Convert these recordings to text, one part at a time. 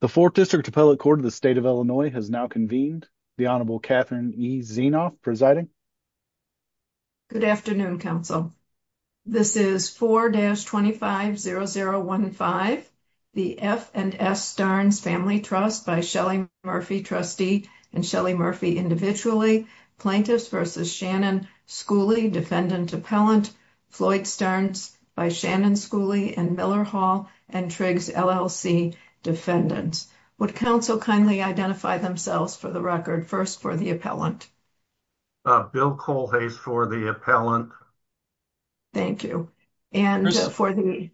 The 4th District Appellate Court of the State of Illinois has now convened, the Honorable Catherine E. Zienoff presiding. Good afternoon, Council. This is 4-25-0015, the F&S Starnes Family Trust by Shelly Murphy, trustee and Shelly Murphy individually, Plaintiffs v. Shannon Schooley, defendant appellant, Floyd Starnes by Shannon Schooley and Miller Hall and Triggs LLC defendants. Would Council kindly identify themselves for the record? First, for the appellant. Bill Colhase for the appellant. Thank you. And for the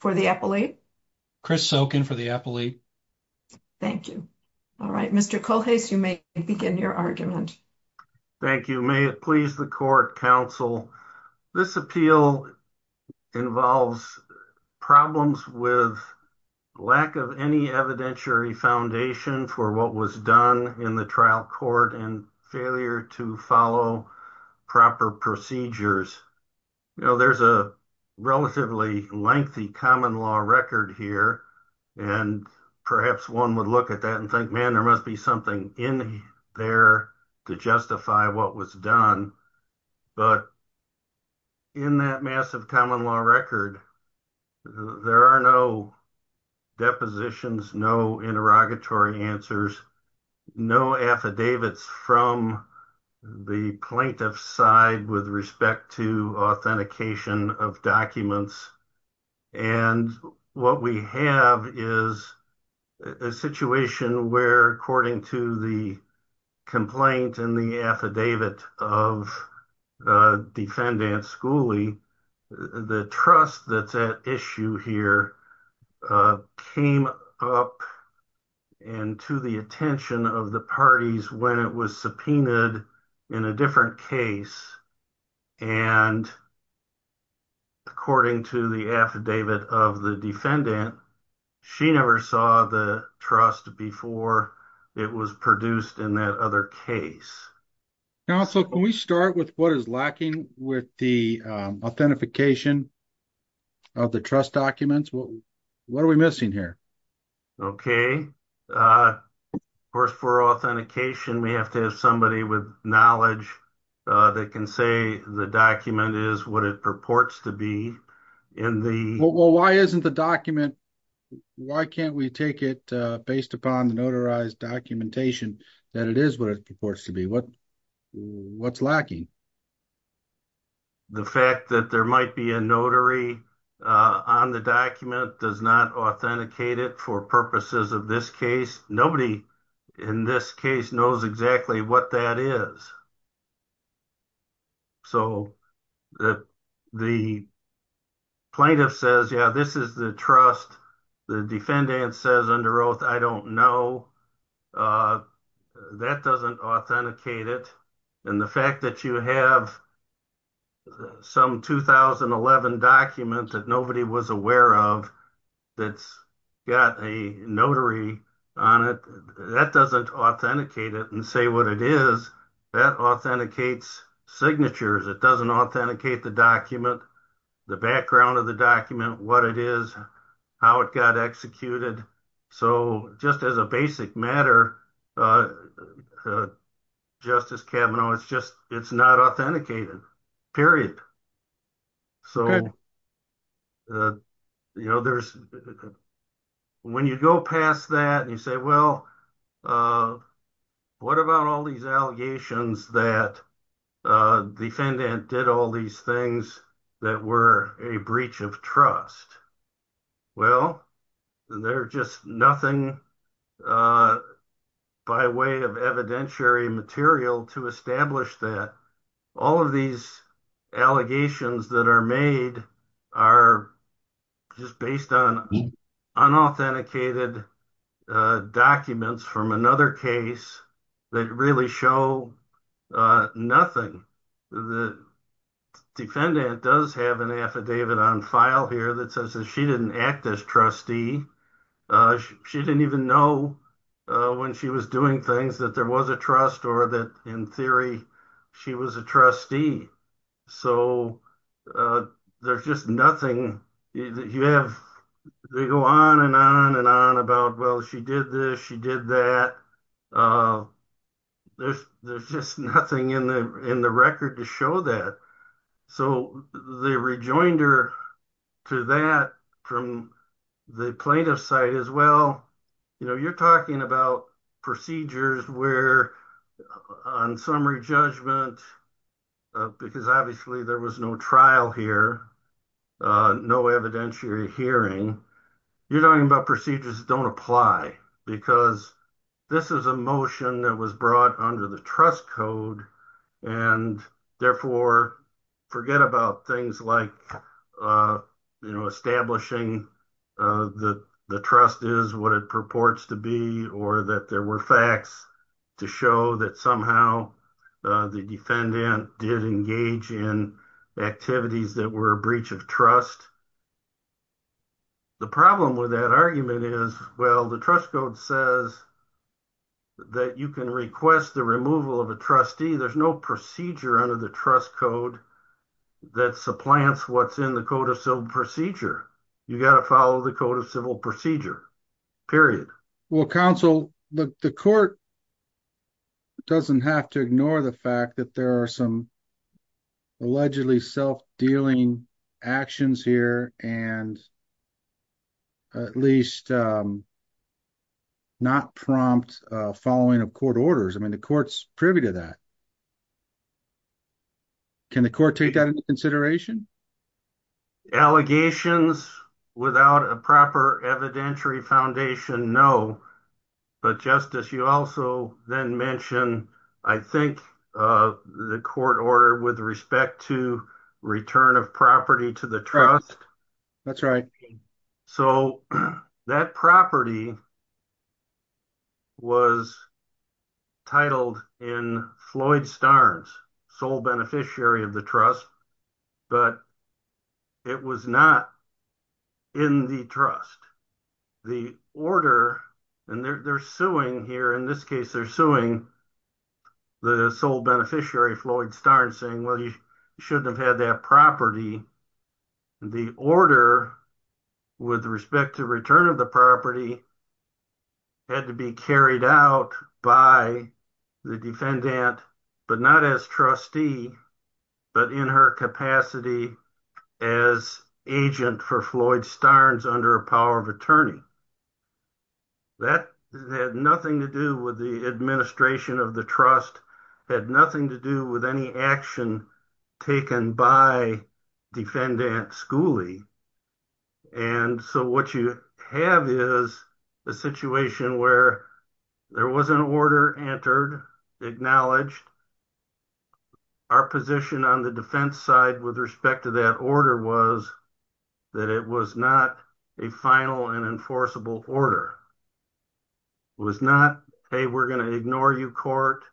for the appellate? Chris Sokin for the appellate. Thank you. All right. Mr. Colhase, you may begin your argument. Thank you. May it please the court, Council. This appeal involves problems with lack of any evidentiary foundation for what was done in the trial court and failure to follow proper procedures. You know, there's a relatively lengthy common law record here. And perhaps one would look at that and think, man, there must be something in there to justify what was done. But in that massive common law record, there are no depositions, no interrogatory answers, no affidavits from the plaintiff's with respect to authentication of documents. And what we have is a situation where, according to the complaint in the affidavit of defendant Schooley, the trust that's at issue here came up and to the attention of the parties when it was subpoenaed in a different case. And according to the affidavit of the defendant, she never saw the trust before it was produced in that other case. Now, so can we start with what is lacking with the authentication of the trust documents? What are we missing here? Okay. Of course, for authentication, we have to have somebody with knowledge that can say the document is what it purports to be in the... Well, why isn't the document... Why can't we take it based upon the notarized documentation that it is what it purports to be? What's lacking? The fact that there might be a notary on the document does not authenticate it for purposes of this case. Nobody in this case knows exactly what that is. So the plaintiff says, yeah, this is the trust. The defendant says under oath, I don't know. That doesn't authenticate it. And the fact that you have some 2011 document that nobody was aware of that's got a notary on it, that doesn't authenticate it and say what it is. That authenticates signatures. It doesn't authenticate the document, the background of the document, what it is, how it got executed. So just as a basic matter, Justice Kavanaugh, it's not authenticated, period. When you go past that and you say, well, what about all these allegations that a defendant did all these things that were a breach of trust? Well, there's just nothing by way of evidentiary material to establish that. All of these allegations that are made are just based on unauthenticated documents from another case that really show nothing. The defendant does have an affidavit on file here that says that she didn't act as trustee. She didn't even know when she was doing things that there was a trust or that in theory, she was a trustee. So there's just nothing. They go on and on and on about, well, she did this, she did that. There's just nothing in the record to show that. So they rejoined her to that from the plaintiff's side as well. You're talking about procedures where on summary judgment, because obviously there was no trial here, no evidentiary hearing, you're talking about procedures that don't apply because this is a motion that was brought under the trust code. And therefore forget about things like establishing the trust is what it purports to be or that there were facts to show that somehow the defendant did engage in activities that were a breach of trust. The problem with that argument is, well, the trust says that you can request the removal of a trustee. There's no procedure under the trust code that supplants what's in the code of civil procedure. You got to follow the code of civil procedure, period. Well, counsel, the court doesn't have to ignore the fact that there are some allegedly self-dealing actions here and at least not prompt following of court orders. I mean, the court's privy to that. Can the court take that into consideration? Allegations without a proper evidentiary foundation, no. But Justice, you also then mentioned, I think, the court order with respect to return of property to the trust. That's right. So that property was titled in Floyd Starnes, sole beneficiary of the trust, but it was not in the trust. The order, and they're suing here, in this case, they're suing the sole beneficiary, Floyd Starnes, saying, well, you shouldn't have had that property. The order with respect to return of the property had to be carried out by the defendant, but not as trustee, but in her capacity as agent for Floyd Starnes under a power of attorney. That had nothing to do with the administration of the trust, had nothing to do with any action taken by defendant Schooley. And so what you have is a situation where there was an order entered, acknowledged. Our position on the defense side with respect to that order was that it was not a final and enforceable order. It was not, hey, we're going to ignore you, court.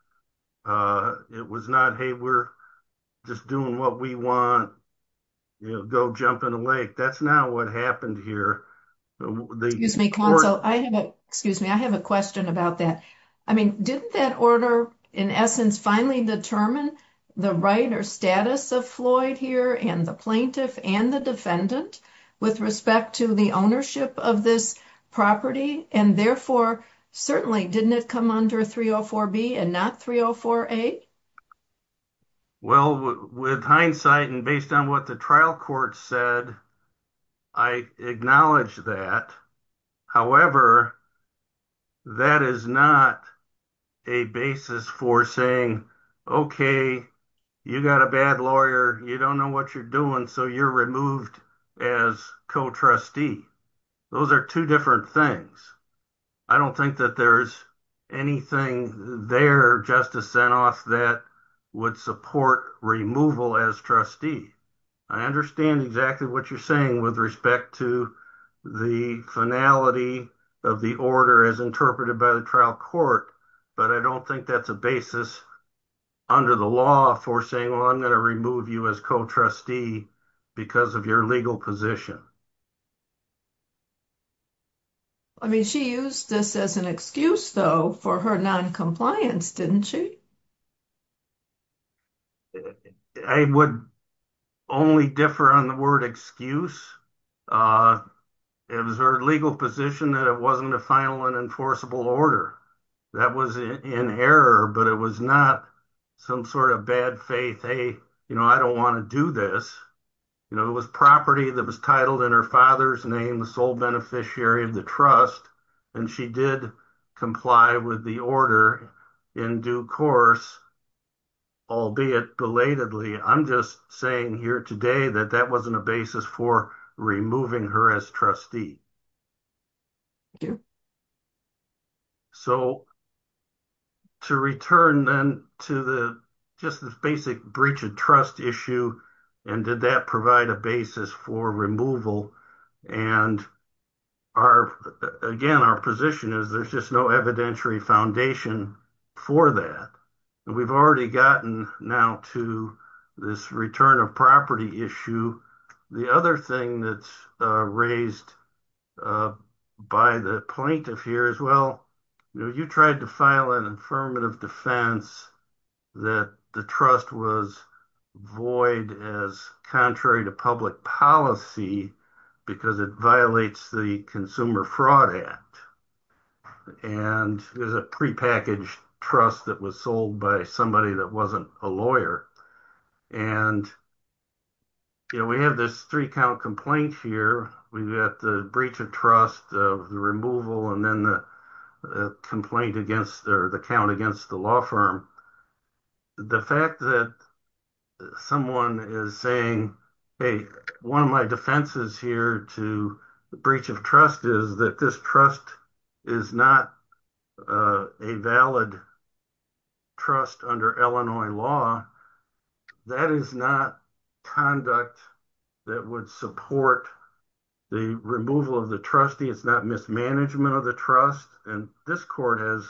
It was not, hey, we're just doing what we want, you know, go jump in the lake. That's not what happened here. Excuse me, counsel. I have a question about that. I mean, didn't that order, in essence, finally determine the right or status of Floyd here and the plaintiff and the defendant with respect to the ownership of this property? And therefore, certainly, didn't it come under 304B and not 304A? Well, with hindsight and based on what the trial court said, I acknowledge that. However, that is not a basis for saying, okay, you got a bad lawyer, you don't know what you're doing, so you're removed as co-trustee. Those are two different things. I don't think that there's anything there, Justice Zinoff, that would support removal as trustee. I understand exactly what you're saying with respect to the finality of the order as interpreted by the trial court, but I don't think that's a basis under the law for saying, well, I'm going to remove you as co-trustee because of your legal position. I mean, she used this as an excuse, though, for her noncompliance, didn't she? I would only differ on the word excuse. It was her legal position that it wasn't a final and enforceable order. That was in error, but it was not some sort of bad faith, hey, I don't want to do this. It was property that was titled in her father's name, the sole beneficiary of the trust, and she did comply with the order in due course, albeit belatedly. I'm just saying here today that that wasn't a basis for removing her as trustee. Thank you. So, to return then to just the basic breach of trust issue, and did that provide a basis for removal? Again, our position is there's just no evidentiary foundation for that. We've already gotten now to this return of property issue. The other thing that's raised by the plaintiff here is, well, you tried to file an affirmative defense that the trust was void as contrary to public policy because it violates the Consumer Fraud Act, and there's a prepackaged trust that was by somebody that wasn't a lawyer. We have this three-count complaint here. We've got the breach of trust, the removal, and then the complaint against or the count against the law firm. The fact that someone is saying, hey, one of my defenses here to the breach of trust is that this is not a valid trust under Illinois law, that is not conduct that would support the removal of the trustee. It's not mismanagement of the trust, and this court has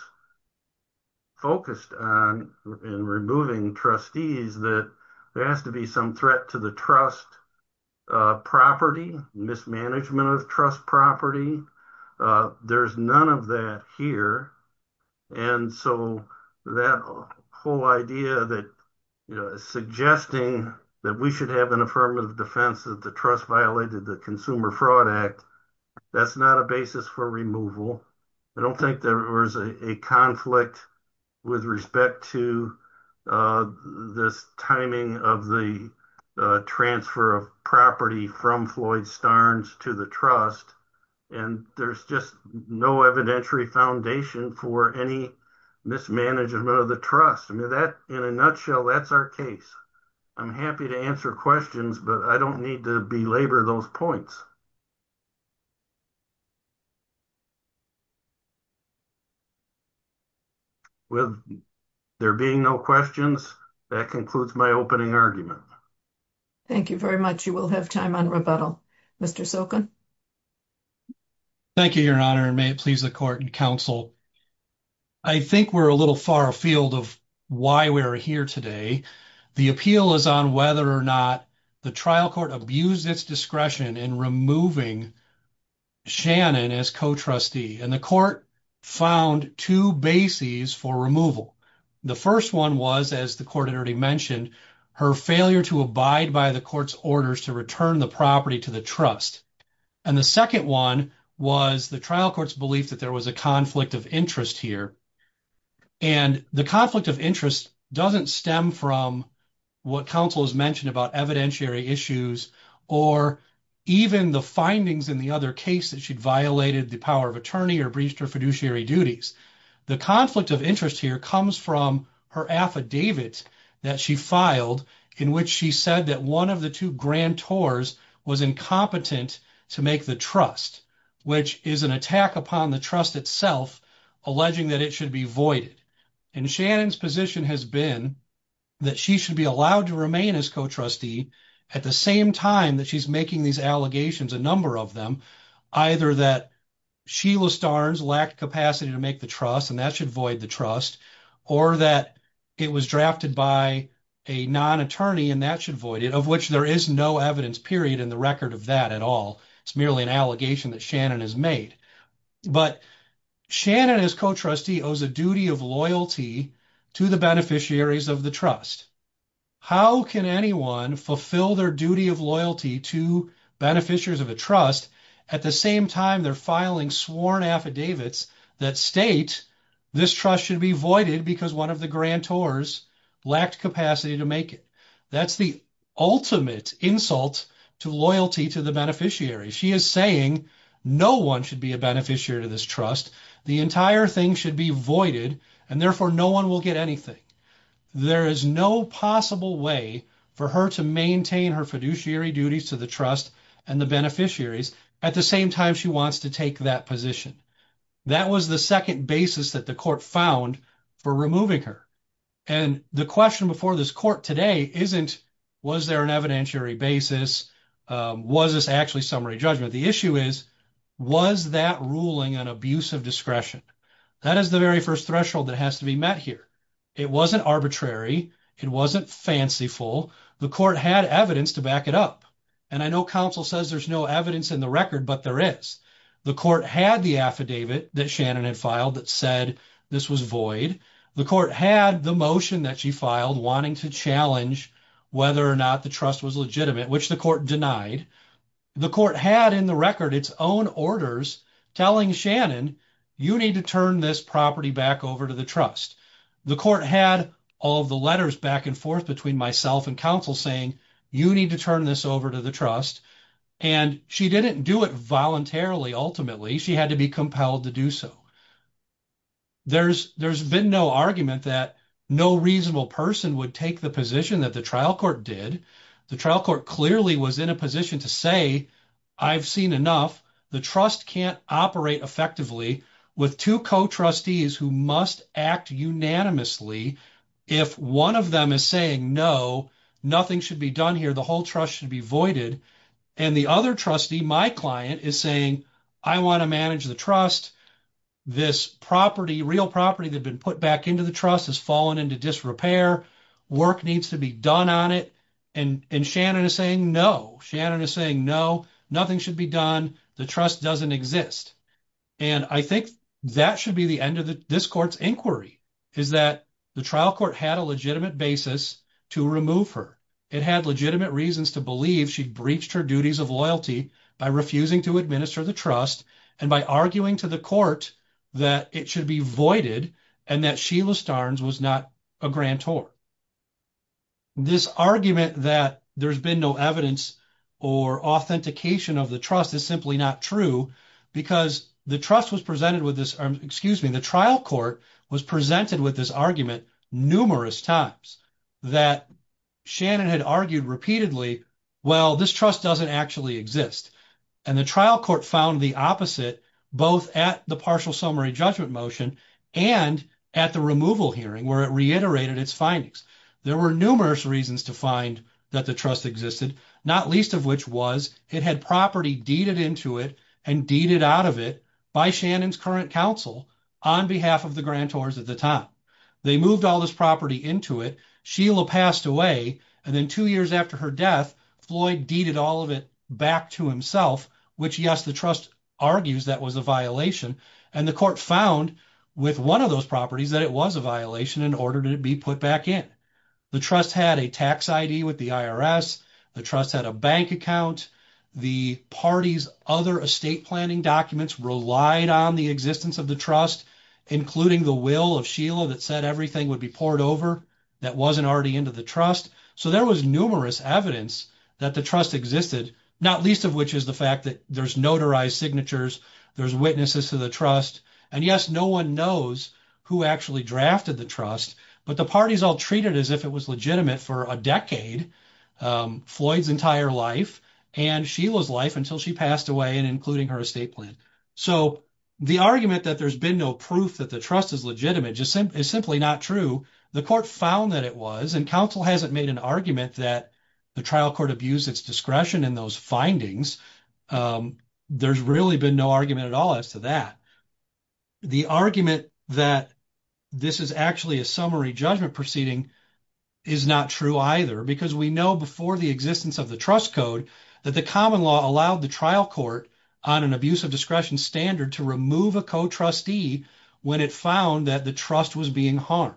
focused on in removing trustees that there has to be some threat to the trust property, mismanagement of trust property. There's none of that here, and so that whole idea that suggesting that we should have an affirmative defense that the trust violated the Consumer Fraud Act, that's not a basis for removal. I don't think there was a conflict with respect to the timing of the transfer of property from Floyd Starnes to the trust, and there's just no evidentiary foundation for any mismanagement of the trust. In a nutshell, that's our case. I'm happy to answer questions, but I don't need to belabor those points. With there being no questions, that concludes my opening argument. Thank you very much. You will have time on rebuttal. Mr. Sokin. Thank you, Your Honor, and may it please the court and counsel. I think we're a little far afield of why we are here today. The appeal is on whether or not the trial court abused its discretion in removing Shannon as co-trustee, and the court found two bases for removal. The first one was, as the court had already mentioned, her failure to abide by the court's orders to return the property to the trust, and the second one was the trial court's belief that there was a conflict of interest here, and the conflict of interest doesn't stem from what counsel has mentioned about evidentiary issues or even the findings in the other case that she'd violated the power of attorney or breached her fiduciary duties. The conflict of interest here comes from her affidavit that she filed in which she said that one of the two grantors was incompetent to make the trust, which is an void. And Shannon's position has been that she should be allowed to remain as co-trustee at the same time that she's making these allegations, a number of them, either that Sheila Starnes lacked capacity to make the trust and that should void the trust, or that it was drafted by a non-attorney and that should void it, of which there is no evidence, period, in the record of that at all. It's merely an allegation that Shannon has made. But Shannon as co-trustee owes a duty of loyalty to the beneficiaries of the trust. How can anyone fulfill their duty of loyalty to beneficiaries of a trust at the same time they're filing sworn affidavits that state this trust should be voided because one of the grantors lacked capacity to make it? That's the ultimate insult to loyalty to the beneficiary. She is no one should be a beneficiary to this trust. The entire thing should be voided and therefore no one will get anything. There is no possible way for her to maintain her fiduciary duties to the trust and the beneficiaries at the same time she wants to take that position. That was the second basis that the court found for removing her. And the question before this court today isn't, was there an evidentiary basis? Was this actually summary judgment? The issue is, was that ruling an abuse of discretion? That is the very first threshold that has to be met here. It wasn't arbitrary. It wasn't fanciful. The court had evidence to back it up. And I know counsel says there's no evidence in the record, but there is. The court had the affidavit that Shannon had filed that said this was void. The court had the motion that she filed wanting to challenge whether or not the trust was legitimate, which the court denied. The court had in the record its own orders telling Shannon, you need to turn this property back over to the trust. The court had all of the letters back and forth between myself and counsel saying, you need to turn this over to the trust. And she didn't do it voluntarily. Ultimately, she had to be compelled to do so. There's been no argument that no reasonable person would take the position that the trial court did. The trial court clearly was in a position to say, I've seen enough. The trust can't operate effectively with two co-trustees who must act unanimously. If one of them is saying, no, nothing should be done here, the whole trust should be voided. And the other trustee, my client, is saying, I want to manage the trust. This property, real property that had been put back into the trust has fallen into disrepair. Work needs to be done on it. And Shannon is saying, no, Shannon is saying, no, nothing should be done. The trust doesn't exist. And I think that should be the end of this court's inquiry, is that the trial court had a legitimate basis to remove her. It had legitimate reasons to believe she'd breached her duties of loyalty by refusing to administer the trust and by arguing to the that it should be voided and that Sheila Starnes was not a grantor. This argument that there's been no evidence or authentication of the trust is simply not true because the trust was presented with this, excuse me, the trial court was presented with this argument numerous times that Shannon had argued repeatedly, well, this trust doesn't actually exist. And the trial court found the opposite, both at the partial summary judgment motion and at the removal hearing where it reiterated its findings. There were numerous reasons to find that the trust existed, not least of which was it had property deeded into it and deeded out of it by Shannon's current counsel on behalf of the grantors at the time. They moved all this property into it. Sheila passed away. And then two years after her death, Floyd deeded all of it back to himself, which yes, the trust argues that was a violation. And the court found with one of those properties that it was a violation in order to be put back in. The trust had a tax ID with the IRS. The trust had a bank account. The party's other estate planning documents relied on the existence of the trust, including the will of Sheila that said everything would be poured over that wasn't already into the trust. So there was numerous evidence that the trust existed, not least of which is the fact that there's notarized signatures, there's witnesses to the trust. And yes, no one knows who actually drafted the trust, but the party's all treated as if it was legitimate for a decade, Floyd's entire life and Sheila's life until she passed away and including her estate plan. So the argument that there's been no proof that the trust is legitimate is simply not true. The court found that it was and counsel hasn't made an argument that the trial court abused its discretion in those findings. There's really been no argument at all as to that. The argument that this is actually a summary judgment proceeding is not true either, because we know before the existence of the trust code that the common law allowed the trial court on an abuse of discretion standard to remove a co-trustee when it found that the trust was being harmed.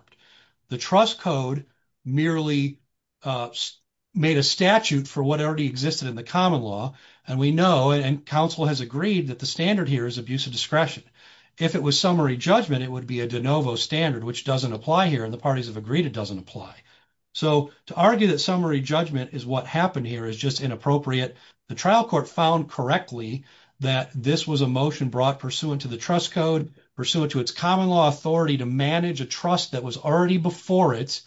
The trust code merely made a statute for what already existed in the common law, and we know and counsel has agreed that the standard here is abuse of discretion. If it was summary judgment, it would be a de novo standard, which doesn't apply here, and the parties have agreed it doesn't apply. So to argue that summary judgment is what happened is just inappropriate. The trial court found correctly that this was a motion brought pursuant to the trust code, pursuant to its common law authority to manage a trust that was already before it,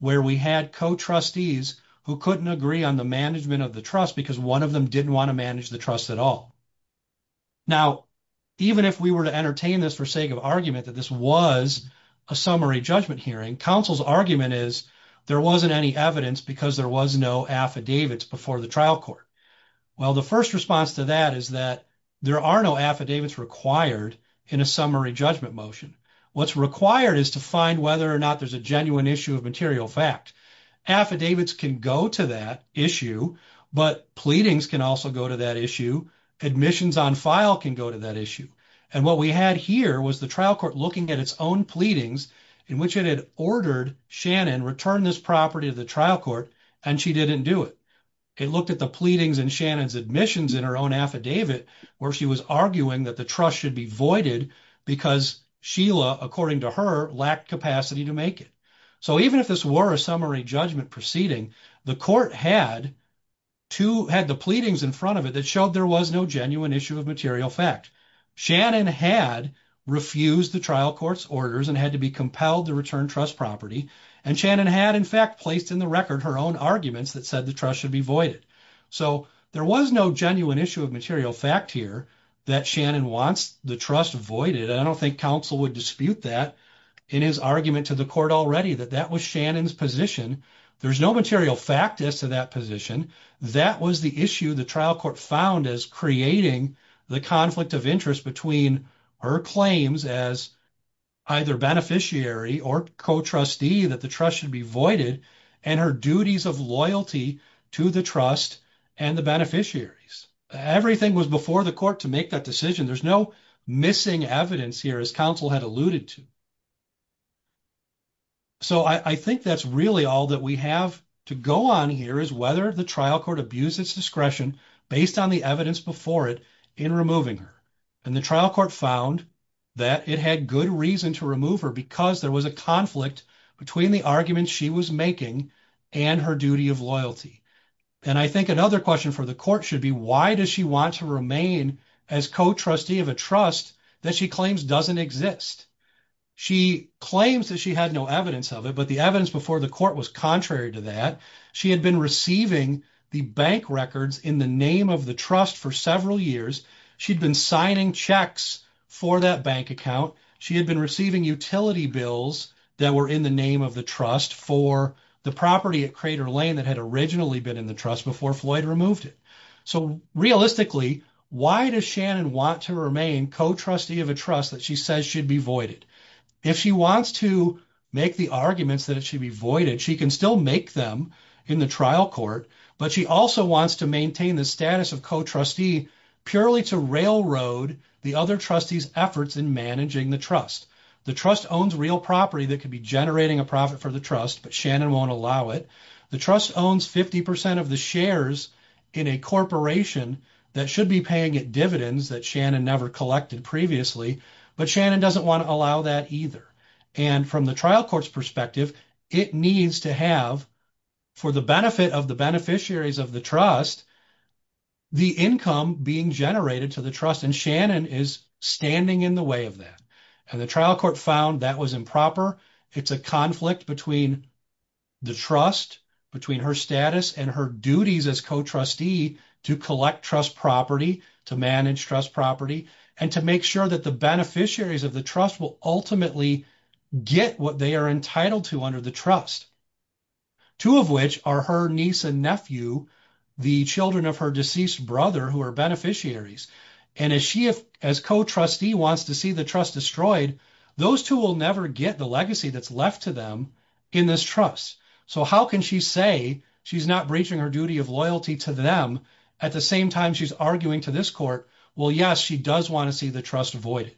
where we had co-trustees who couldn't agree on the management of the trust because one of them didn't want to manage the trust at all. Now even if we were to entertain this for sake of argument that this was a summary judgment hearing, counsel's argument is there wasn't any evidence because there was no affidavits before the trial court. Well the first response to that is that there are no affidavits required in a summary judgment motion. What's required is to find whether or not there's a genuine issue of material fact. Affidavits can go to that issue, but pleadings can also go to that issue, admissions on file can go to that issue, and what we had here was the trial court looking at its own pleadings in which it had ordered Shannon return this property to the trial court and she didn't do it. It looked at the pleadings in Shannon's admissions in her own affidavit where she was arguing that the trust should be voided because Sheila, according to her, lacked capacity to make it. So even if this were a summary judgment proceeding, the court had the pleadings in front of it that showed there was no genuine issue of material fact. Shannon had refused the trial court's orders and had to be compelled to return trust property and Shannon had in fact placed in the record her own arguments that said the trust should be voided. So there was no genuine issue of material fact here that Shannon wants the trust voided. I don't think counsel would dispute that in his argument to the court already that that was Shannon's position. There's no material fact as to that position. That was the issue the trial court found as creating the conflict of interest between her claims as either beneficiary or co-trustee that the trust should be voided and her duties of loyalty to the trust and the beneficiaries. Everything was before the court to make that decision. There's no missing evidence here as counsel had alluded to. So I think that's really all that we have to go on here is whether the trial court abused its discretion based on the evidence before it in removing her. And the trial court found that it had good reason to remove her because there was a conflict between the arguments she was making and her duty of loyalty. And I think another question for the court should be why does she want to remain as co-trustee of a trust that she claims doesn't exist. She claims that she had no evidence of it but the evidence before the court was contrary to that. She had been receiving the bank records in the name of the trust for several years. She'd been signing checks for that bank account. She had been receiving utility bills that were in the name of the trust for the property at Crater Lane that had originally been in the trust before Floyd removed it. So realistically why does Shannon want to remain co-trustee of a trust that she says should be voided? If she wants to make the arguments that it should be voided she can still make them in the trial court but she also wants to maintain the status of co-trustee purely to railroad the other trustees efforts in managing the trust. The trust owns real property that could be generating a profit for the trust but Shannon won't allow it. The trust owns 50 percent of the shares in a corporation that should be paying it dividends that Shannon never collected previously but Shannon doesn't want to allow that either. And from the trial court's perspective it needs to have for the benefit of the beneficiaries of the trust the income being generated to the trust and Shannon is standing in the way of that and the trial court found that was improper. It's a conflict between the trust between her status and her duties as co-trustee to collect trust property to manage trust property and to make sure that the beneficiaries of the will ultimately get what they are entitled to under the trust. Two of which are her niece and nephew the children of her deceased brother who are beneficiaries and as she as co-trustee wants to see the trust destroyed those two will never get the legacy that's left to them in this trust. So how can she say she's not breaching her duty of loyalty to them at the same time she's arguing to this court well yes she does want to see the trust avoided.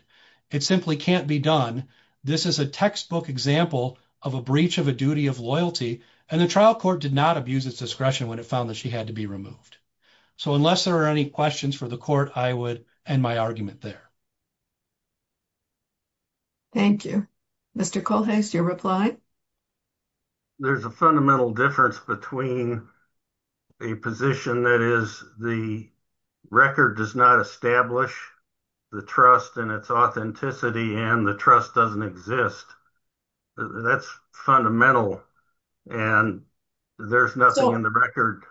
It simply can't be done this is a textbook example of a breach of a duty of loyalty and the trial court did not abuse its discretion when it found that she had to be removed. So unless there are any questions for the court I would end my argument there. Thank you. Mr. Colhase your reply. There's a fundamental difference between a position that is the record does not establish the trust and its authenticity and the trust doesn't exist that's fundamental and there's nothing in the record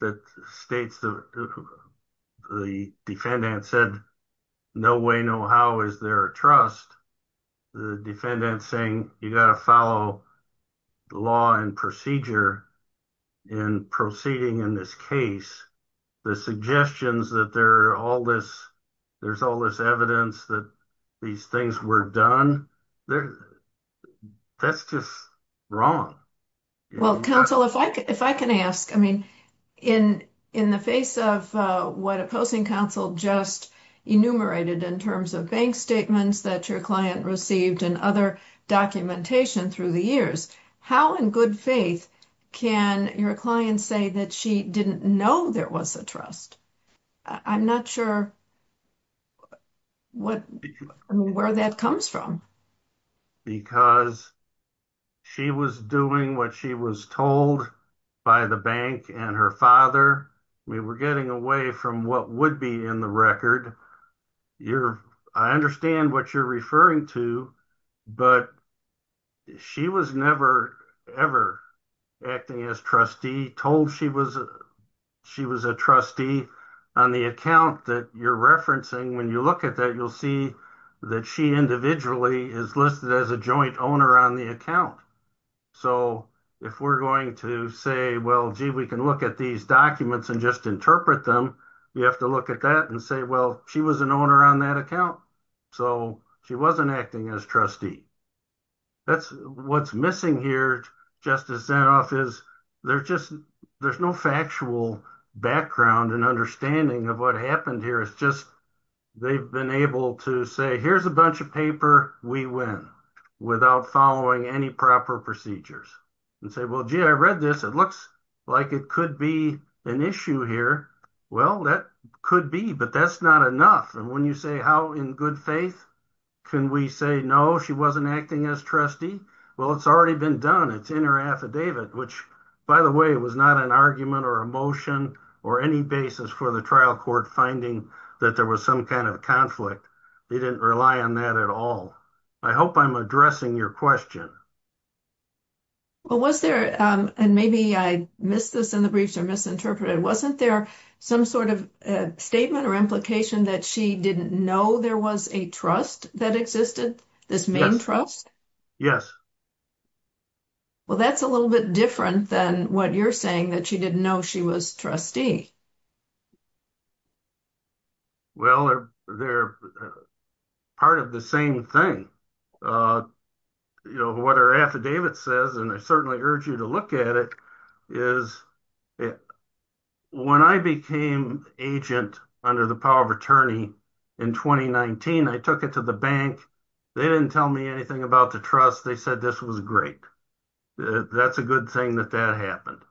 that states the the defendant said no way no how is there a trust the defendant saying you got to follow the law and procedure in proceeding in this case the suggestions that there are all this there's all this evidence that these things were done there that's just wrong. Well counsel if I if I can ask I mean in in the face of what opposing counsel just enumerated in terms of statements that your client received and other documentation through the years how in good faith can your client say that she didn't know there was a trust I'm not sure what where that comes from because she was doing what she was told by the bank and her father we were getting away from what would be in the record you're I understand what you're referring to but she was never ever acting as trustee told she was she was a trustee on the account that you're referencing when you look at that you'll see that she individually is listed as a joint owner on the account so if we're going to say well gee we can look at these documents and just interpret them you have to look at that and say well she was an owner on that account so she wasn't acting as trustee that's what's missing here just as then off is they're just there's no factual background and understanding of what happened here it's just they've been able to say here's a bunch of paper we win without following any proper procedures and say well gee I read this it looks like it could be an issue here well that could be but that's not enough and when you say how in good faith can we say no she wasn't acting as trustee well it's already been done it's in her affidavit which by the way was not an argument or a motion or any basis for the trial court finding that there was some kind of conflict they didn't rely on that at all I hope I'm addressing your question well was there and maybe I missed this in the briefs or misinterpreted wasn't there some sort of statement or implication that she didn't know there was a trust that existed this main trust yes well that's a little bit different than what you're saying that she didn't know she was trustee well they're part of the same thing you know what her affidavit says and I certainly urge you to look at it is it when I became agent under the power of attorney in 2019 I took it to the bank they didn't tell me anything about the trust they said this was great that's a good thing that that happened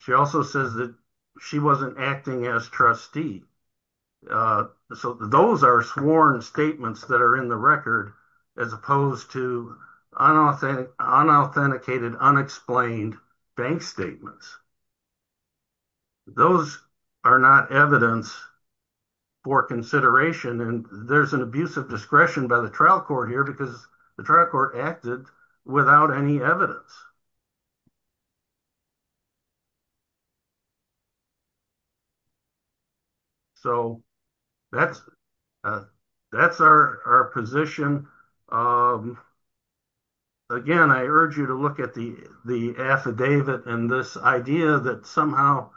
she also says that she wasn't acting as trustee so those are sworn statements that are in the record as opposed to unauthentic unauthenticated unexplained bank statements those are not evidence for consideration and there's an abuse of discretion by the trial court here because the trial court acted without any evidence so that's that's our our position again I urge you to look at the the affidavit and this idea that somehow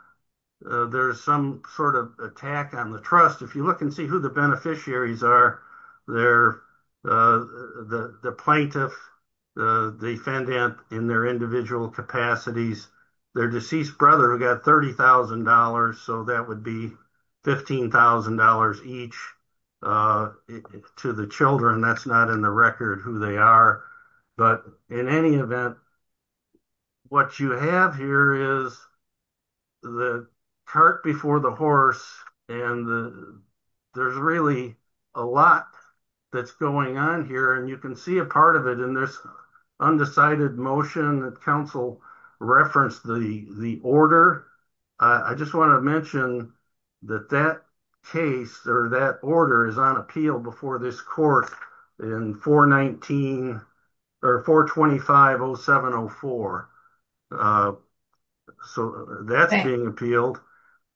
there's some sort of attack on the trust if you look and see who the beneficiaries are they're the the plaintiff the defendant in their individual capacities their deceased brother who got thirty thousand dollars so that would be fifteen thousand dollars each to the children that's not in the record who they are but in any event what you have here is the cart before the and the there's really a lot that's going on here and you can see a part of it in this undecided motion that council referenced the the order I just want to mention that that case or that order is on appeal before this court in 419 or 425 0704 uh so that's being appealed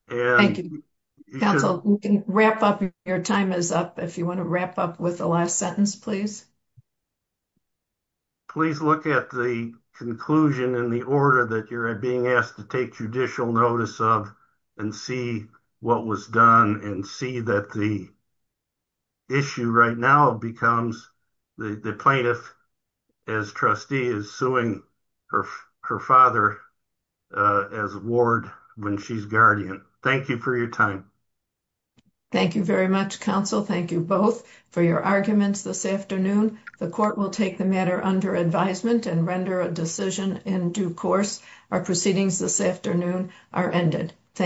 and thank you counsel you can wrap up your time is up if you want to wrap up with the last sentence please please look at the conclusion in the order that you're being asked to take judicial notice of and see what was done and see that the the issue right now becomes the the plaintiff as trustee is suing her her father as ward when she's guardian thank you for your time thank you very much counsel thank you both for your arguments this afternoon the court will take the matter under advisement and render a decision in due course our proceedings this afternoon are ended thank you